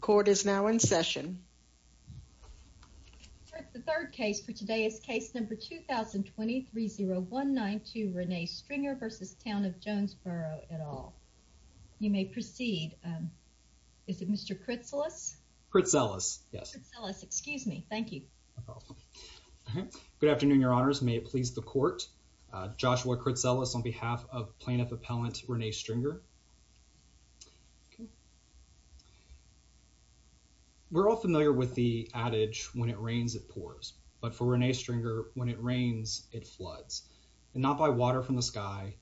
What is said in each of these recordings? Court is now in session. The third case for today is case number 2020-3019 to Renee Stringer versus Town of Jonesboro et al. You may proceed. Is it Mr. Critzelis? Critzelis, yes. Critzelis, excuse me. Thank you. Good afternoon, Your Honors. May it please the court. Joshua Critzelis on behalf of Plaintiff Appellant Renee Stringer. We're all familiar with the adage, when it rains it pours. But for Renee Stringer, when it rains it floods. And not by water from the sky,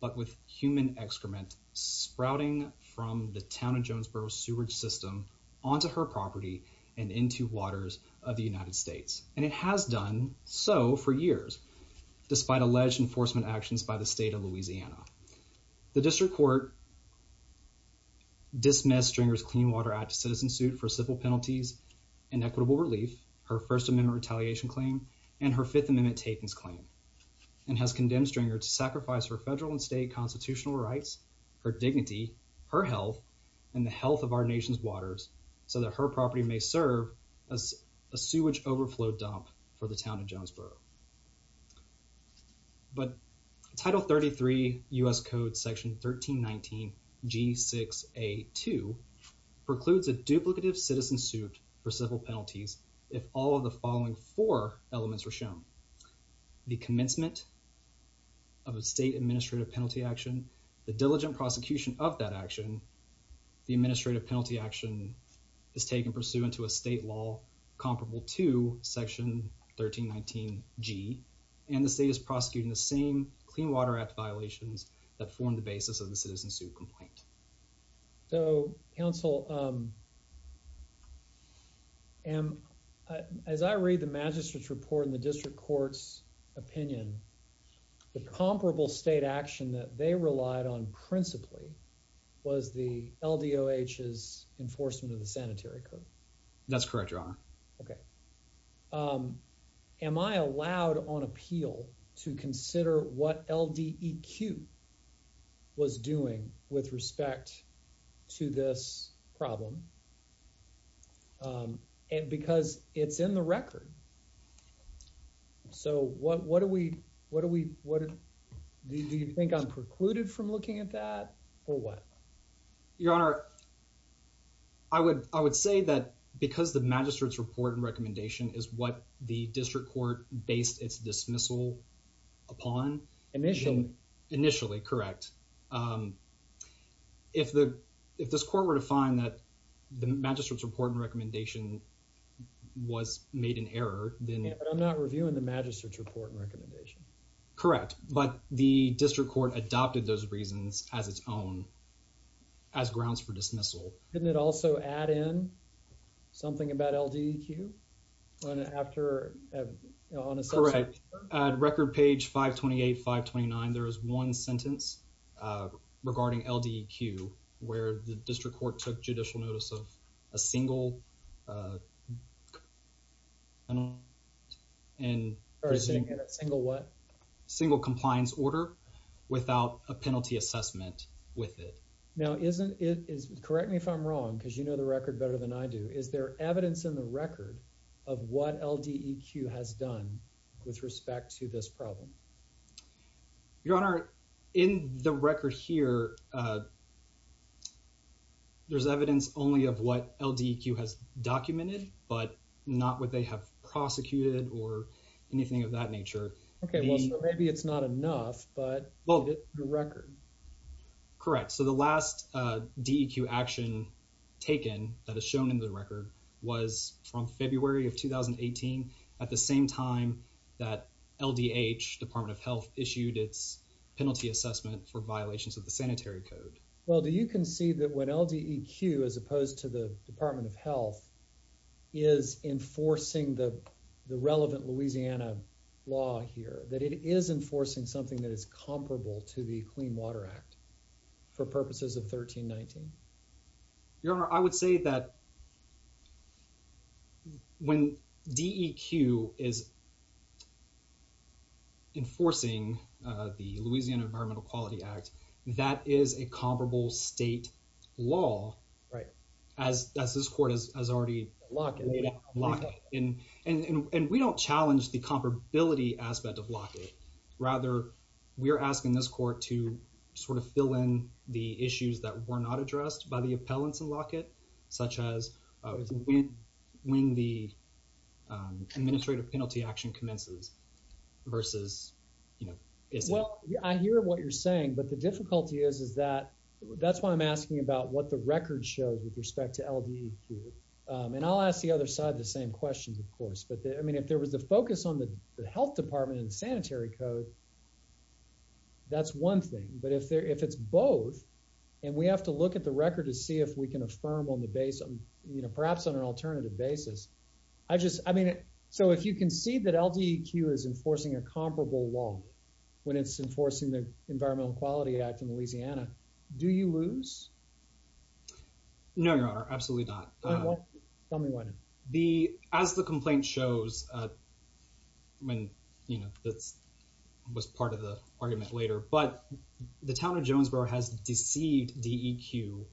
but with human excrement sprouting from the Town of Jonesboro sewerage system onto her property and into waters of the United States. And it has done so for years, despite alleged enforcement actions by the state of Jonesboro. The District Court dismissed Stringer's Clean Water Act citizen suit for civil penalties and equitable relief, her First Amendment retaliation claim, and her Fifth Amendment takings claim, and has condemned Stringer to sacrifice her federal and state constitutional rights, her dignity, her health, and the health of our nation's waters so that her property may serve as a sewage overflow dump for the Town of Jonesboro. But Title 33 U.S. Code Section 1319 G6A2 precludes a duplicative citizen suit for civil penalties if all of the following four elements are shown. The commencement of a state administrative penalty action, the diligent prosecution of that action, the administrative penalty action is taken pursuant to a state law comparable to Section 1319 G, and the state is prosecuting the same Clean Water Act violations that form the basis of the citizen suit complaint. So, counsel, as I read the magistrate's report in the District Court's opinion, the comparable state action that they relied on That's correct, Your Honor. Okay. Am I allowed on appeal to consider what LDEQ was doing with respect to this problem? And because it's in the record, so what what do we what do we what do you think I'm precluded from looking at that or what? Your Honor, I would I would say that because the magistrate's report and recommendation is what the District Court based its dismissal upon. Initially. Initially, correct. If the if this court were to find that the magistrate's report and recommendation was made an error, then. I'm not reviewing the magistrate's report and recommendation. Correct, but the District Court adopted those reasons as its own as grounds for dismissal. Didn't it also add in something about LDEQ? Correct. At record page 528, 529, there is one sentence regarding LDEQ where the District Court took judicial notice of a penalty assessment with it. Now, correct me if I'm wrong, because you know the record better than I do. Is there evidence in the record of what LDEQ has done with respect to this problem? Your Honor, in the record here, there's evidence only of what LDEQ has documented, but not what they have prosecuted or anything of that nature. Okay, well maybe it's not enough, but the record. Correct, so the last DEQ action taken that is shown in the record was from February of 2018 at the same time that LDH, Department of Health, issued its penalty assessment for violations of the Sanitary Code. Well, do you concede that when LDEQ, as opposed to the Department of Health, is enforcing the relevant Louisiana law here, that it is enforcing something that is comparable to the Clean Water Act for purposes of 1319? Your Honor, I would say that when DEQ is enforcing the Louisiana Environmental Quality Act, that is a comparable state law as this Court has already made up. And we don't challenge the comparability aspect of Lockett. Rather, we're asking this Court to sort of fill in the issues that were not addressed by the appellants in Lockett, such as when the administrative penalty action commences versus, you know, Well, I hear what you're saying, but the difficulty is is that, that's why I'm asking about what the record shows with respect to LDEQ. And I'll ask the other side the same questions, of course. But, I mean, if there was a focus on the Health Department and Sanitary Code, that's one thing. But if there, if it's both, and we have to look at the record to see if we can affirm on the basis, you know, perhaps on an alternative basis. I just, I mean, so if you concede that LDEQ is enforcing a comparable law when it's enforcing the Environmental Quality Act in Louisiana, do you lose? No, Your Honor. Absolutely not. Tell me why not. As the complaint shows, I mean, you know, that was part of the argument later, but the town of Jonesboro has deceived DEQ,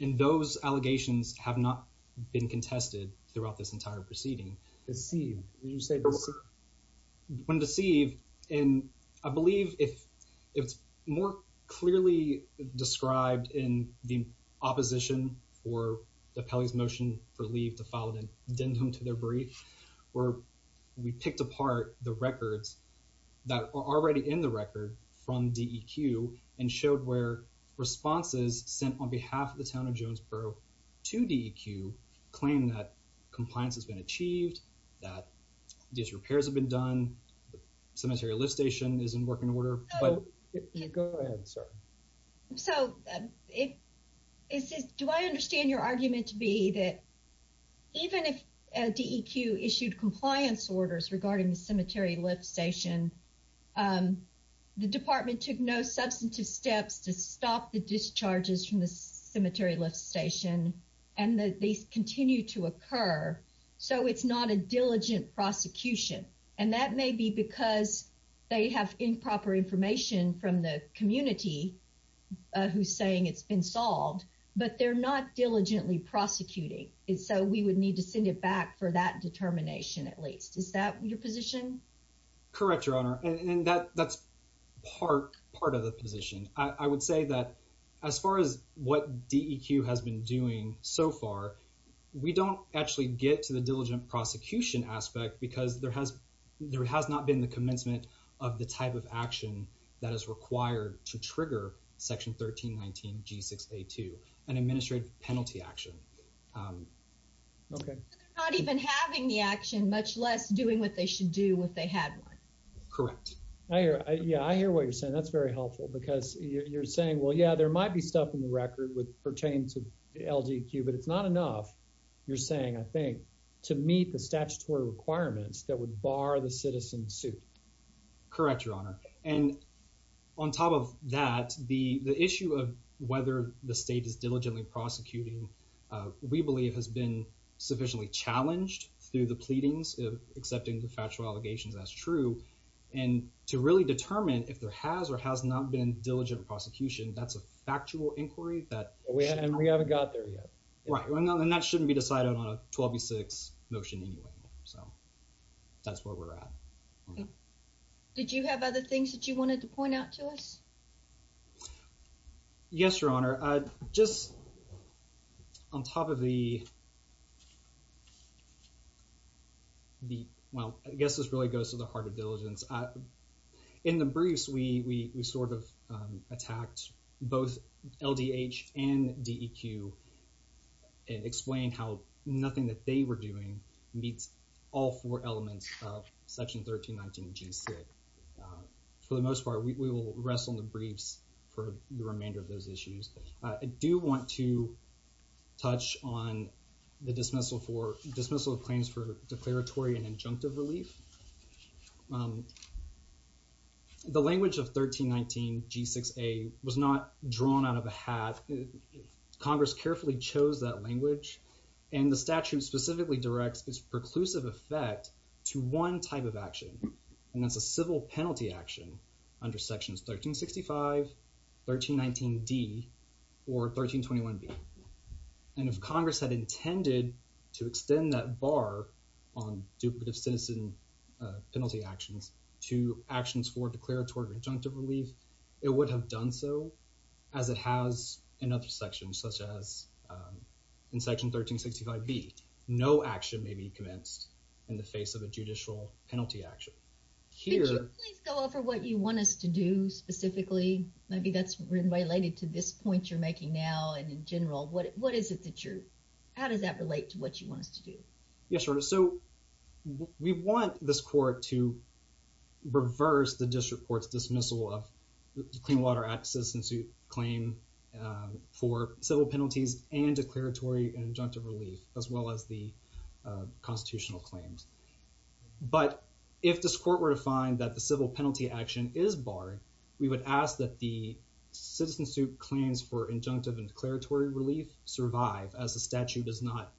and those allegations have not been contested throughout this entire proceeding. Deceived? Did you say deceived? When deceived, and I believe if it's more clearly described in the opposition for the appellee's motion for leave to file an addendum to their brief, where we picked apart the records that are already in the record from DEQ and showed where responses sent on behalf of the town of Jonesboro to DEQ claim that the Cemetery Lift Station is in working order. Go ahead, sir. So, do I understand your argument to be that even if DEQ issued compliance orders regarding the Cemetery Lift Station, the department took no substantive steps to stop the discharges from the Cemetery Lift Station, and that these continue to occur, so it's not a diligent prosecution? And that may be because they have improper information from the community who's saying it's been solved, but they're not diligently prosecuting, and so we would need to send it back for that determination at least. Is that your position? Correct, Your Honor, and that's part of the position. I would say that as far as what DEQ has been doing so far, we don't actually get to the diligent prosecution aspect because there has there has not been the commencement of the type of action that is required to trigger Section 1319 G6A2, an administrative penalty action. Okay. Not even having the action, much less doing what they should do if they had one. Correct. I hear, yeah, I hear what you're saying. That's very helpful because you're saying, well, yeah, there might be stuff in the record with pertains of DEQ, but it's not enough, you're saying, I think, to meet the statutory requirements that would bar the citizen's suit. Correct, Your Honor, and on top of that, the the issue of whether the state is diligently prosecuting, we believe has been sufficiently challenged through the pleadings of accepting the factual allegations, that's true, and to really determine if there has or has not been diligent prosecution, that's a factual inquiry that we haven't got there yet. Right, and that shouldn't be decided on a 12B6 motion anyway, so that's where we're at. Did you have other things that you wanted to point out to us? Yes, Your Honor, just on top of the, well, I guess this really goes to the heart of the issue that was attacked, both LDH and DEQ explained how nothing that they were doing meets all four elements of Section 1319G6. For the most part, we will rest on the briefs for the remainder of those issues. I do want to touch on the dismissal for, dismissal of claims for declaratory and injunctive relief. The language of 1319G6A was not drawn out of a hat. Congress carefully chose that language, and the statute specifically directs its preclusive effect to one type of action, and that's a civil penalty action under Sections 1365, 1319D, or 1321B, and if Congress had intended to extend that bar on duplicative citizen penalty actions to actions for declaratory injunctive relief, it would have done so, as it has in other sections, such as in Section 1365B, no action may be commenced in the face of a judicial penalty action. Could you please go over what you want us to do specifically? Maybe that's related to this point you're making now, and in general, what is it that you're, how does that relate to what you want us to do? Yes, Your Honor, so we want this court to reverse the district court's dismissal of the Clean Water Act citizen suit claim for civil penalties and declaratory and injunctive relief, as well as the constitutional claims, but if this court were to find that the civil penalty action is barred, we would ask that the citizen suit claims for injunctive and declaratory relief survive, as the statute does not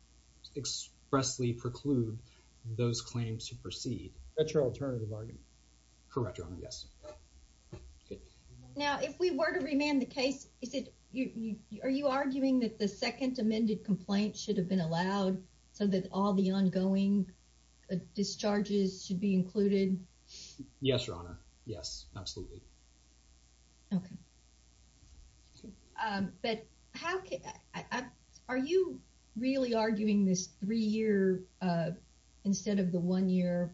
expressly preclude those claims to proceed. Retroalternative argument. Correct, Your Honor, yes. Now, if we were to remand the case, is it, are you arguing that the second amended complaint should have been allowed, so that all the ongoing discharges should be included? Yes, Your Honor, yes, absolutely. Okay, but how, are you really arguing this three-year instead of the one-year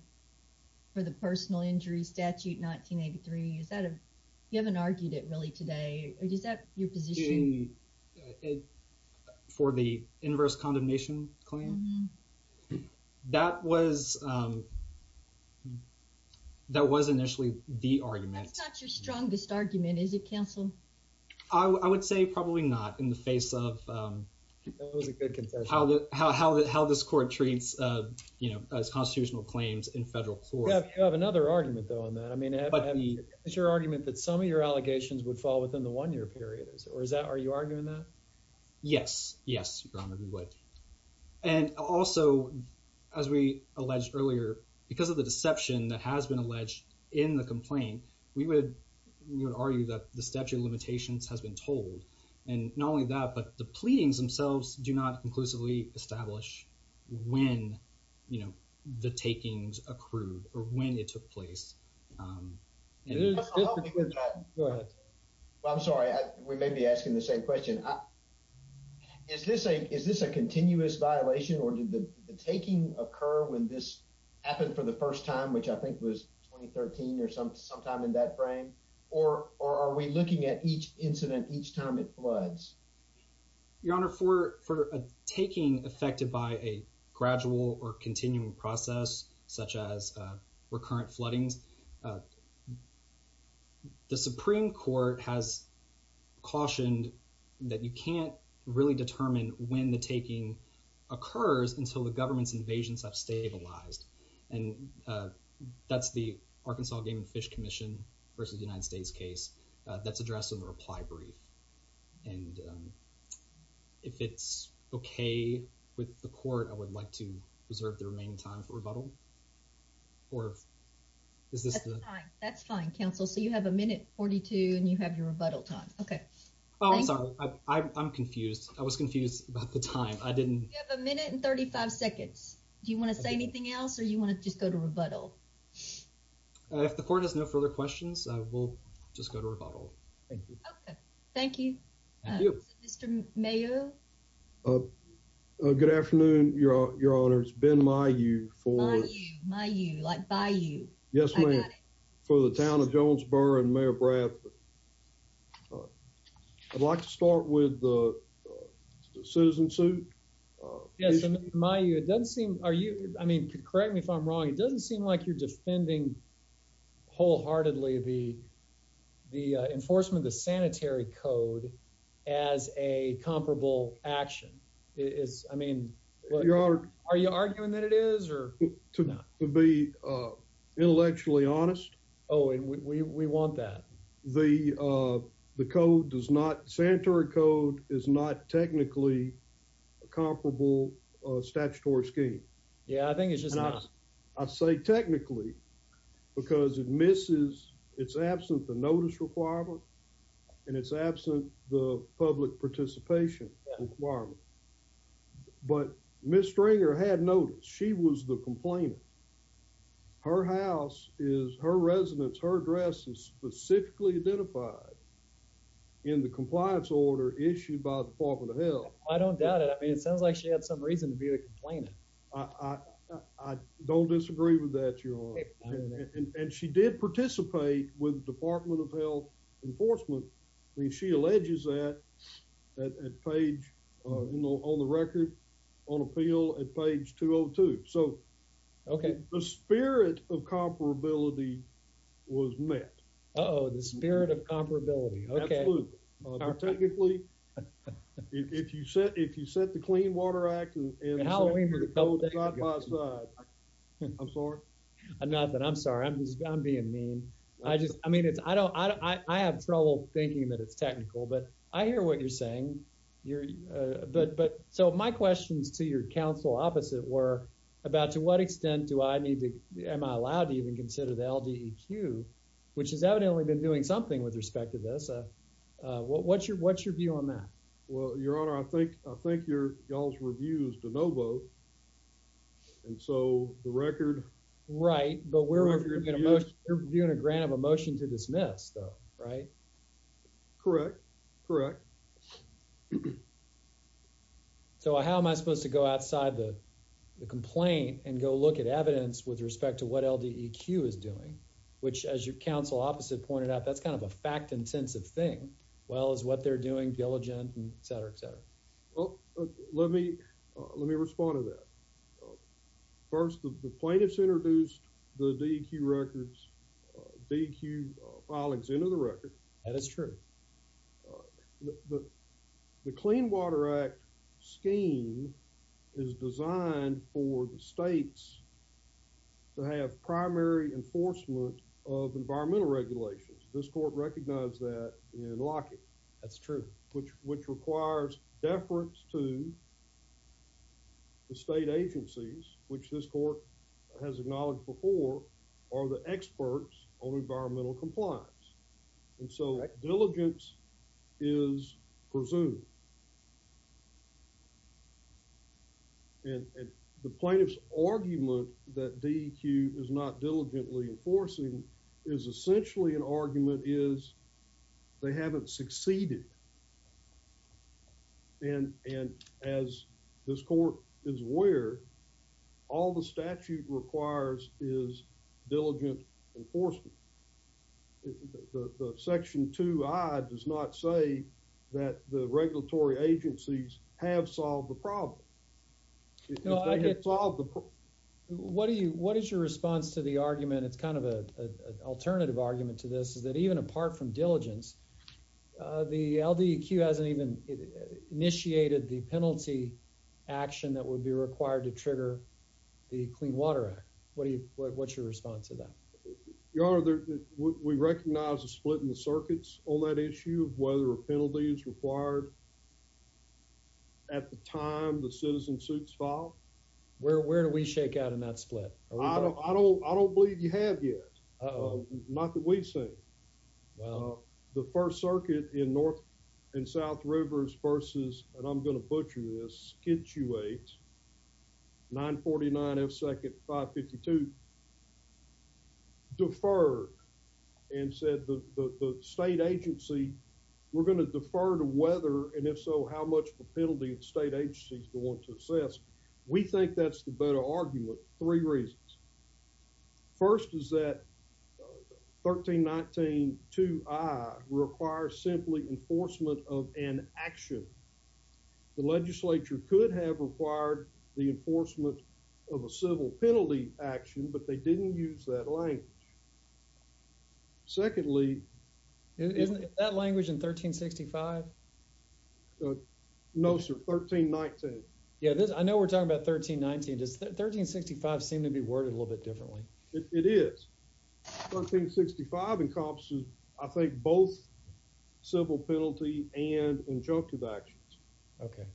for the personal injury statute 1983? Is that a, you haven't argued it really today, or is that your position? For the inverse condemnation claim? That was, that was initially the argument. That's not your strongest argument, is it counsel? I would say probably not in the face of how this court treats, you know, as constitutional claims in federal court. You have another argument, though, on that. I mean, is your argument that some of your allegations would fall within the one-year period? Or is that, are you arguing that? Yes, yes, Your Honor, we would. And also, as we alleged earlier, because of the deception that has been alleged in the complaint, we would argue that the pleadings themselves do not conclusively establish when, you know, the takings accrued or when it took place. I'm sorry, we may be asking the same question. Is this a, is this a continuous violation, or did the taking occur when this happened for the first time, which I think was 2013 or sometime in that frame, or are we looking at each incident each time it floods? Your Honor, for a taking affected by a gradual or continuing process, such as recurrent floodings, the Supreme Court has cautioned that you can't really determine when the taking occurs until the government's invasions have stabilized, and that's the Arkansas Game and Fish Commission versus United States case that's addressed in the reply brief. And if it's okay with the court, I would like to reserve the remaining time for rebuttal, or is this the... That's fine, counsel, so you have a minute 42 and you have your rebuttal time. Okay. Oh, I'm sorry, I'm confused. I was confused about the time. I didn't... You have a minute and 35 seconds. Do you want to say something? If the court has no further questions, we'll just go to rebuttal. Thank you. Okay, thank you. Mr. Mayo. Good afternoon, Your Honor. It's been my you for... My you, my you, like by you. Yes, ma'am, for the town of Jonesboro and Mayor Bradford. I'd like to start with the citizen suit. Yes, my you, it doesn't seem, are you, I mean, correct me if I'm wrong, it doesn't seem like you're defending wholeheartedly the enforcement of the sanitary code as a comparable action. Is, I mean, are you arguing that it is or not? To be intellectually honest. Oh, and we want that. The code does not, sanitary code is not technically a comparable statutory scheme. Yeah, I think it's just not. I say technically because it misses, it's absent the notice requirement, and it's absent the public participation requirement. But Ms. Stringer had notice. She was the complainant. Her house is, her residence, her address is specifically identified in the compliance order issued by the Department of Health. I don't doubt it. I mean, it disagree with that, Your Honor. And she did participate with the Department of Health Enforcement. I mean, she alleges that at page, you know, on the record on appeal at page 202. So, okay, the spirit of comparability was met. Oh, the spirit of comparability. Okay. Technically, if you set, if you set the Clean Water Act and Halloween. I'm sorry. Nothing, I'm sorry. I'm just, I'm being mean. I just, I mean, it's, I don't, I have trouble thinking that it's technical, but I hear what you're saying. You're, but, but, so my questions to your counsel opposite were about to what extent do I need to, am I allowed to even consider the LDEQ, which has evidently been doing something with respect to this. What's your, what's your view on that? Well, Your Honor, I think, I think your, y'all's review is de novo. And so the record. Right, but we're reviewing a motion, you're reviewing a grant of a motion to dismiss though, right? Correct, correct. So how am I supposed to go outside the complaint and go look at evidence with respect to what LDEQ is doing, which as your counsel opposite pointed out, that's kind of a fact-intensive thing. Well, is what they're doing diligent and et cetera, et cetera? Well, let me, let me respond to that. First, the plaintiffs introduced the DEQ records, DEQ filings into the record. That is true. The Clean Water Act scheme is designed for the states to have primary enforcement of environmental regulations. This court recognized that in Lockheed. That's true. Which, which requires deference to the state agencies, which this court has acknowledged before, are the experts on environmental compliance. And so diligence is presumed. And the plaintiff's argument that DEQ is not they haven't succeeded. And, and as this court is aware, all the statute requires is diligent enforcement. Section 2i does not say that the regulatory agencies have solved the problem. If they have solved the problem. What do you, what is your response to the argument, it's kind of a alternative argument to this, is that even apart from the LDEQ hasn't even initiated the penalty action that would be required to trigger the Clean Water Act. What do you, what's your response to that? Your honor, we recognize a split in the circuits on that issue of whether a penalty is required at the time the citizen suits file. Where, where do we shake out in that split? I don't, I don't, I don't believe you have yet. Uh oh. Not that we've Well, the First Circuit in North and South Rivers versus, and I'm going to butcher this, situate 949 F 2nd 552. Deferred and said the state agency, we're going to defer to whether and if so, how much the penalty of state agencies going to assess. We think that's the better argument. Three reasons. First is that 1319 2 I requires simply enforcement of an action. The legislature could have required the enforcement of a civil penalty action, but they didn't use that language. Secondly, isn't that language in 1365? No, sir. 1319. Yeah, I know we're talking about 1319. Does 1365 seem to be worded a little bit differently? It is. 1365 encompasses, I think, both civil penalty and injunctive actions. Okay.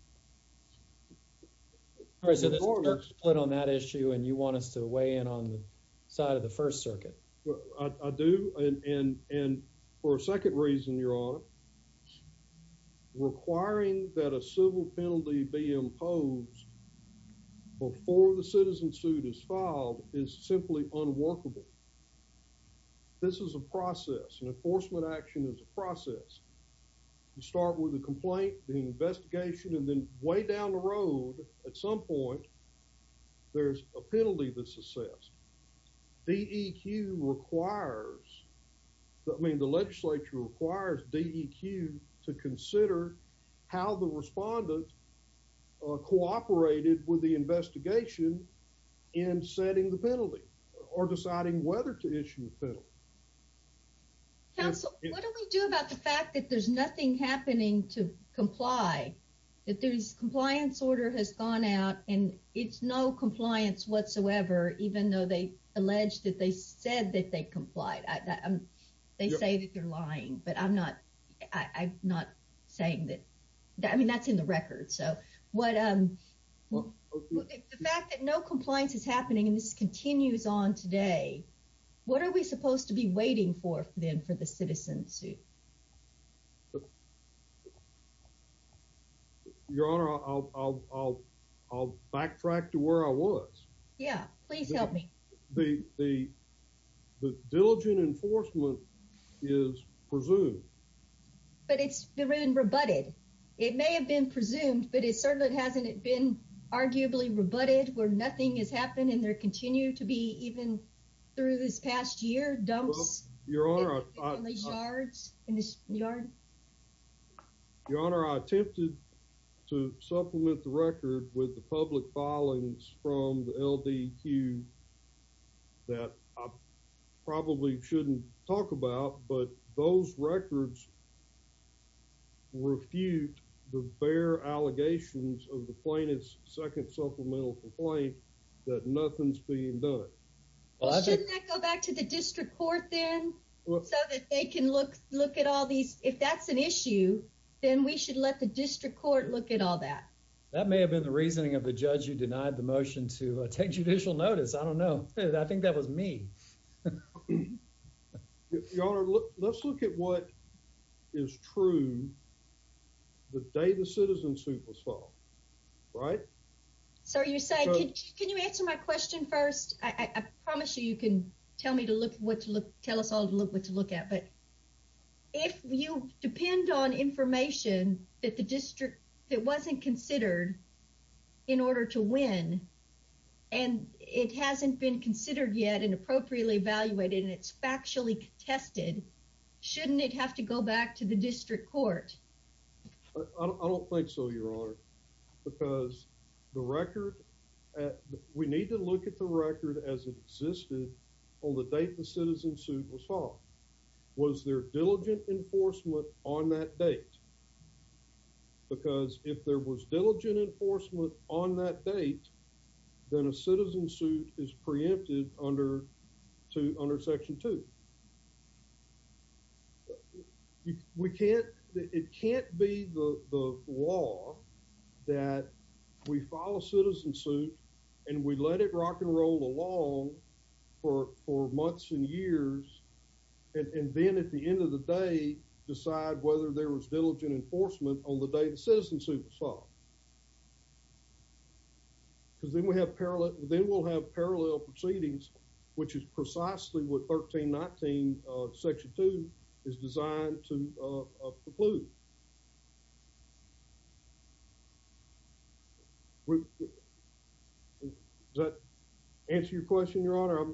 All right, so there's a split on that issue, and you want us to weigh in on the side of the First Circuit. I do. And for a second reason, Your Honor, requiring that a civil penalty be imposed before the citizen suit is filed is simply unworkable. This is a process, and enforcement action is a process. You start with a complaint, the investigation, and then way down the road, at some point, there's a penalty that's assessed. DEQ requires, I mean, the legislature requires DEQ to consider how the respondent cooperated with the counsel. Counsel, what do we do about the fact that there's nothing happening to comply, that there's compliance order has gone out, and it's no compliance whatsoever, even though they alleged that they said that they complied. They say that they're lying, but I'm not saying that. I mean, that's in the record. So what... The fact that no compliance is happening, and this is what we're supposed to be waiting for, then, for the citizen suit. Your Honor, I'll backtrack to where I was. Yeah, please help me. The diligent enforcement is presumed. But it's been rebutted. It may have been presumed, but it certainly hasn't been arguably rebutted, where nothing has happened, and there continue to be, even through this past year, dumps in the yards, in the yard. Your Honor, I attempted to supplement the record with the public filings from the LDQ that I probably shouldn't talk about, but those records refute the bare allegations of the plaintiff's second supplemental complaint that nothing's being done. Well, shouldn't that go back to the district court, then, so that they can look at all these... If that's an issue, then we should let the district court look at all that. That may have been the reasoning of the judge who denied the motion to take judicial notice. I don't know. I think that was me. Your Honor, let's look at what is true the day the citizen suit was filed. Sir, you say, can you answer my question first? I promise you, you can tell me to look, what to look, tell us all to look, what to look at. But if you depend on information that the district, that wasn't considered in order to win, and it hasn't been considered yet, and appropriately evaluated, and it's factually contested, shouldn't it have to go back to the district court? We need to look at the record as it existed on the date the citizen suit was filed. Was there diligent enforcement on that date? Because if there was diligent enforcement on that date, then a citizen suit is preempted under Section 2. We can't, it can't be the law that we file a citizen suit, and we let it rock and roll along for months and years, and then at the end of the day, decide whether there was diligent enforcement on the day the citizen suit was filed. Because then we have parallel, then we'll have parallel proceedings, which is precisely what 1319 Section 2 is designed to conclude. Does that answer your question, Your Honor?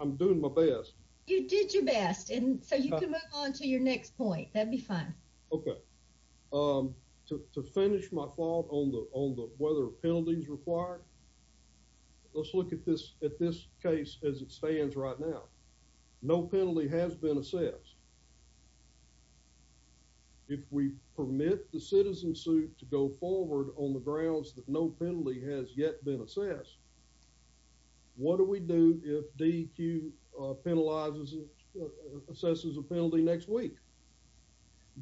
I'm doing my best. You did your best, and so you can move on to your next point. That'd be fine. Okay. To finish my thought on the whether penalties required, let's look at this case as it stands right now. No penalty has been assessed. If we permit the citizen suit to go forward on the grounds that no penalty has yet been assessed, what do we do if DEQ penalizes, assesses a penalty next week?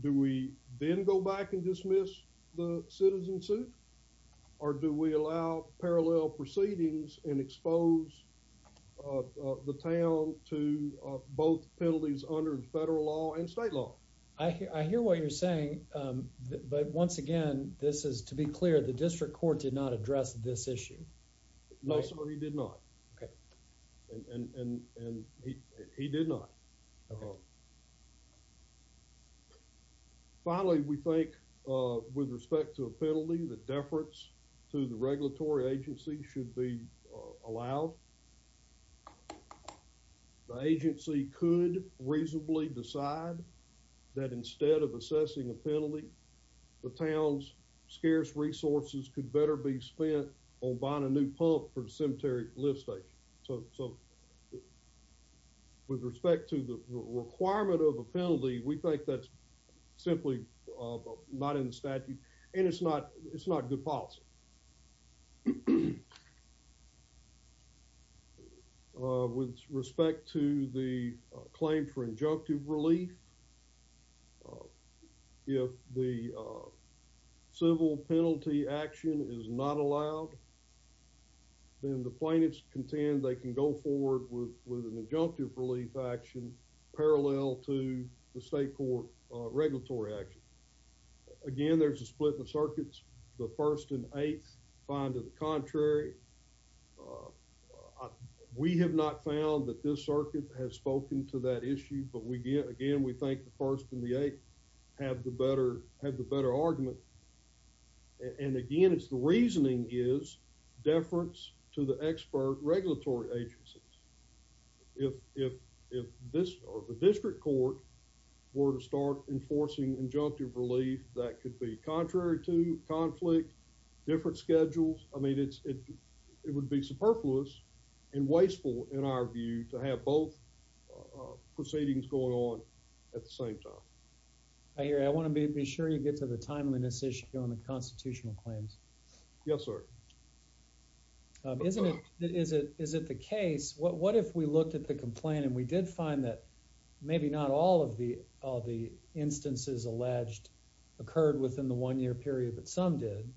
Do we then go back and dismiss the citizen suit, or do we allow parallel proceedings and expose the town to both penalties under federal law and state law? I hear what you're saying, but once again, this is, to be clear, the district court did not address this issue. No, sir, he did not. Okay. And he did not. Finally, we think with respect to a penalty, the deference to the regulatory agency should be allowed. The agency could reasonably decide that instead of assessing a penalty, the town's scarce resources could better be spent on buying a new pump for the cemetery lift station. So with respect to the requirement of a penalty, we think that's simply not in the statute, and it's not good policy. With respect to the claim for injunctive relief, if the civil penalty action is not allowed, then the plaintiffs contend they can go forward with an injunctive relief action parallel to the state court regulatory action. Again, there's a contrary. We have not found that this circuit has spoken to that issue, but again, we think the first and the eighth have the better argument. And again, it's the reasoning is deference to the expert regulatory agencies. If the district court were to start enforcing injunctive relief, that could be contrary to conflict, different schedules. I mean, it would be superfluous and wasteful in our view to have both proceedings going on at the same time. I hear you. I want to be sure you get to the timeliness issue on the constitutional claims. Yes, sir. Isn't it? Is it? Is it the case? What if we looked at the complaint and we did find that maybe not all of the all the instances alleged occurred within the one year period, but some did.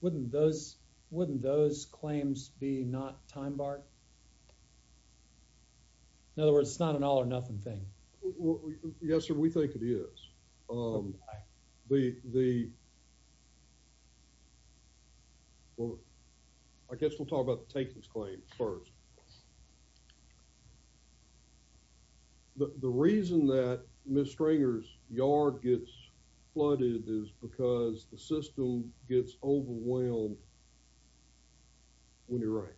Wouldn't those wouldn't those claims be not time barred? In other words, it's not an all or nothing thing. Yes, sir. We think it is. The the well, I guess we'll talk about the takings claim first. The reason that Miss Stringer's yard gets flooded is because the system gets overwhelmed when you're right.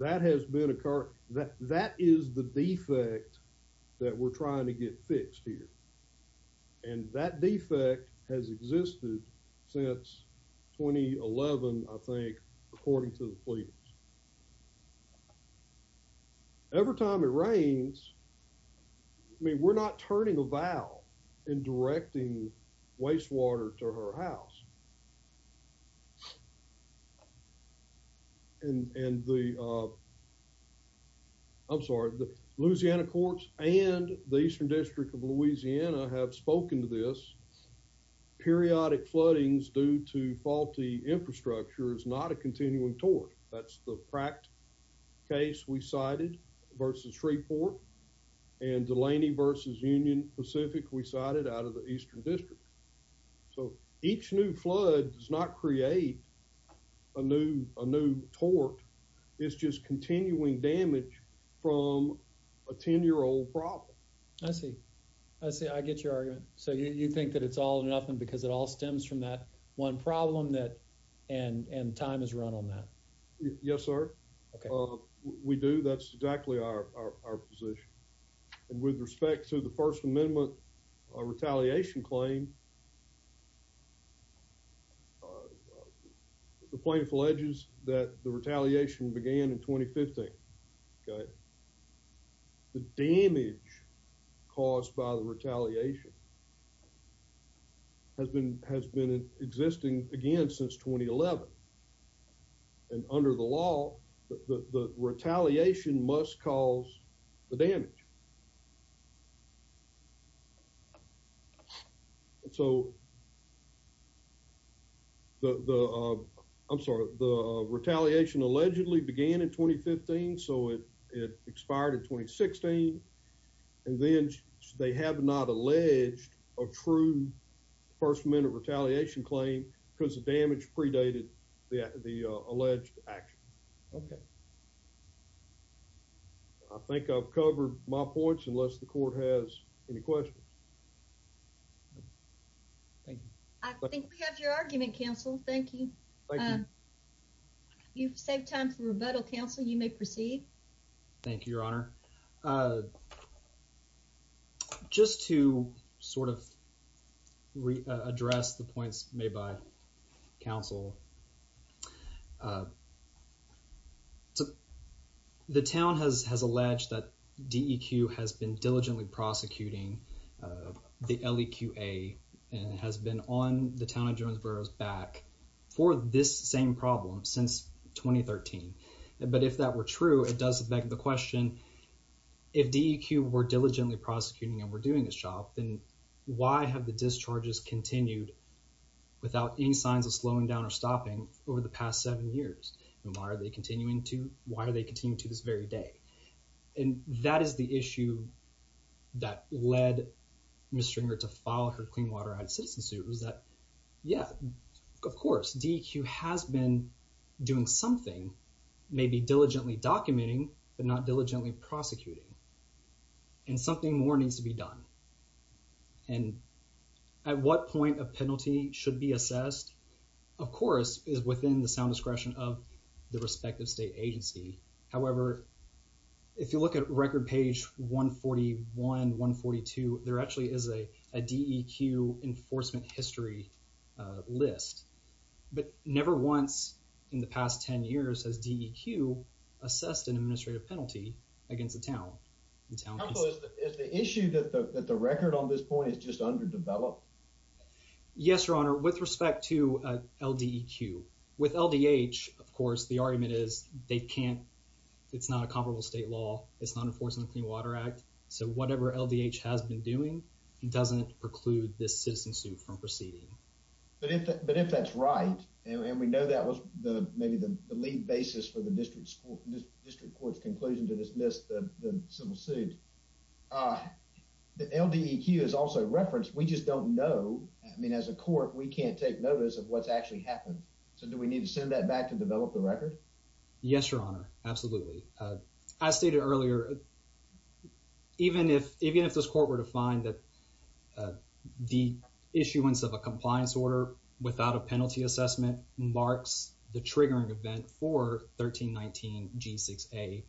That has been a car that that is the defect that we're trying to get fixed here. And that defect has existed since 2011, I think, according to the police. Every time it rains. I mean, we're not turning a valve in directing wastewater to her house. And the I'm sorry, the Louisiana courts and the Eastern District of Louisiana have spoken to this. Periodic floodings due to faulty infrastructure is not a cracked case. We cited versus report and Delaney versus Union Pacific. We started out of the Eastern District, so each new flood does not create a new a new tort. It's just continuing damage from a 10 year old problem. I see. I see. I get your argument. So you think that it's all nothing because it all Yes, sir. We do. That's exactly our position. And with respect to the First Amendment retaliation claim. The point alleges that the retaliation began in 2015. The damage caused by the retaliation has been has been existing again since 2011. And under the law, the retaliation must cause the damage. So the I'm sorry, the retaliation allegedly began in 2015. So it expired in 2016. And then they have not alleged a true First Amendment retaliation claim because damage predated the the alleged action. Okay. I think I've covered my points unless the court has any questions. Thank you. I think we have your argument counsel. Thank you. You've saved time for rebuttal. Counsel, you may proceed. Thank you, Your Honor. Just to sort of address the points made by counsel. The town has has alleged that DEQ has been diligently prosecuting the LEQA and has been on the town of Jonesboro's back for this same problem since 2013. But if that were true, it does beg the question. If DEQ were diligently prosecuting and we're doing a shop, then why have the discharges continued without any signs of slowing down or stopping over the past seven years? And why are they continuing to why are they continue to this very day? And that is the issue that led Ms. Stringer to file her clean water citizen suit was that, yeah, of course, DEQ has been doing something. Maybe diligently documenting, but not diligently prosecuting. And something more needs to be done. And at what point a penalty should be assessed, of course, is within the sound discretion of the respective state agency. However, if you look at record page 141, 142, there actually is a DEQ enforcement history list. But never once in the past 10 years has DEQ assessed an administrative penalty against the town. Is the issue that the record on this point is just underdeveloped? Yes, Your Honor, with respect to LDEQ. With LDH, of course, the argument is they can't. It's not a comparable state law. It's not enforcing the Clean Water Act. So whatever LDH has been doing doesn't preclude this citizen suit from proceeding. But if that's right, and we know that was maybe the lead basis for the district court's conclusion to dismiss the civil suit, LDEQ is also referenced. We just don't know. I mean, as a court, we can't take notice of what's actually happened. So do we need to send that back to develop the record? Yes, Your Honor. Absolutely. As stated earlier, even if this court were to find that the issuance of a compliance order without a penalty assessment marks the triggering event for 1319 G6A,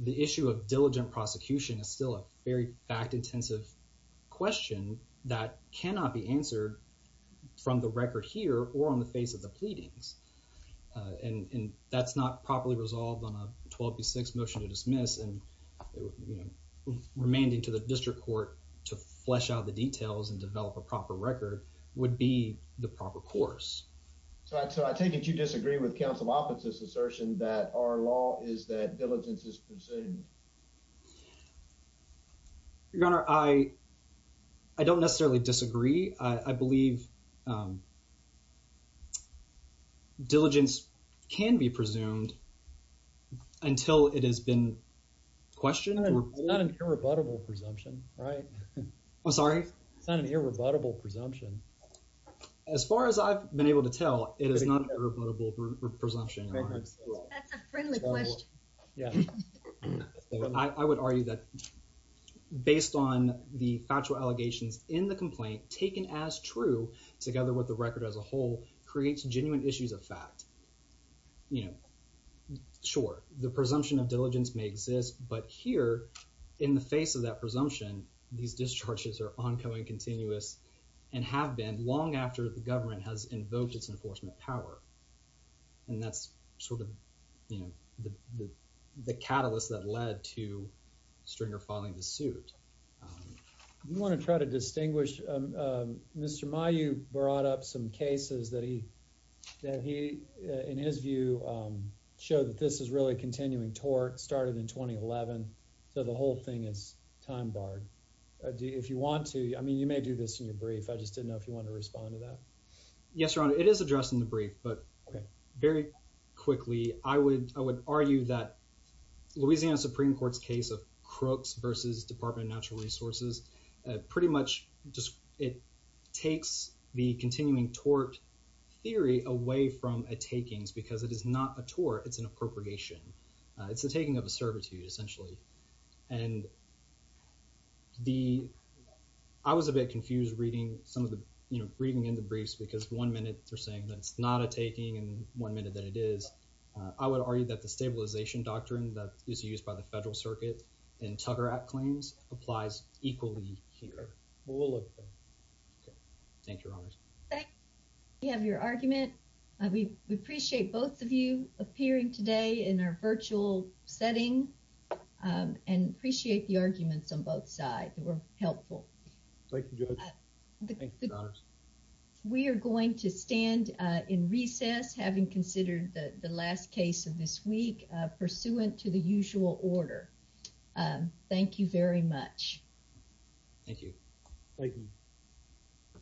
the issue of diligent prosecution is still a very fact-intensive question that cannot be answered from the record here or on the face of the pleadings. And that's not properly resolved on a 12B6 motion to dismiss. And, you know, remanding to the district court to flesh out the details and develop a proper record would be the proper course. So I take it you disagree with counsel's offensive assertion that our law is that diligence is presumed. Your Honor, I don't necessarily disagree. I believe diligence can be presumed until it has been questioned. It's not an irrebuttable presumption, right? I'm sorry? It's not an irrebuttable presumption. As far as I've been able to tell, it is not an irrebuttable presumption. That's a friendly question. Yeah. I would argue that based on the factual allegations in the complaint, taken as true, together with the record as a whole, creates genuine issues of fact. You know, sure, the presumption of diligence may exist. But here, in the face of that presumption, these discharges are ongoing, continuous and have been long after the government has invoked its enforcement power. And that's sort of, you know, the catalyst that led to Stringer filing the suit. I want to try to distinguish. Mr. Mayu brought up some cases that he, in his view, showed that this is really continuing tort, started in 2011. So the whole thing is time barred. If you want to, I mean, you may do this in your brief. I just didn't know if you want to respond to that. But very quickly, I would argue that Louisiana Supreme Court's case of Crooks versus Department of Natural Resources, pretty much just it takes the continuing tort theory away from a takings because it is not a tort, it's an appropriation. It's the taking of a servitude, essentially. And the, I was a bit confused reading some of the, you know, reading in the briefs, because one minute they're saying that it's not a taking and one minute that it is. I would argue that the stabilization doctrine that is used by the federal circuit and Tucker Act claims applies equally here. We'll look at that. Thank you, Your Honors. We have your argument. We appreciate both of you appearing today in our virtual setting. And appreciate the arguments on both sides that were helpful. Thank you, Judge. We are going to stand in recess, having considered the last case of this week, pursuant to the usual order. Thank you very much. Thank you. Thank you.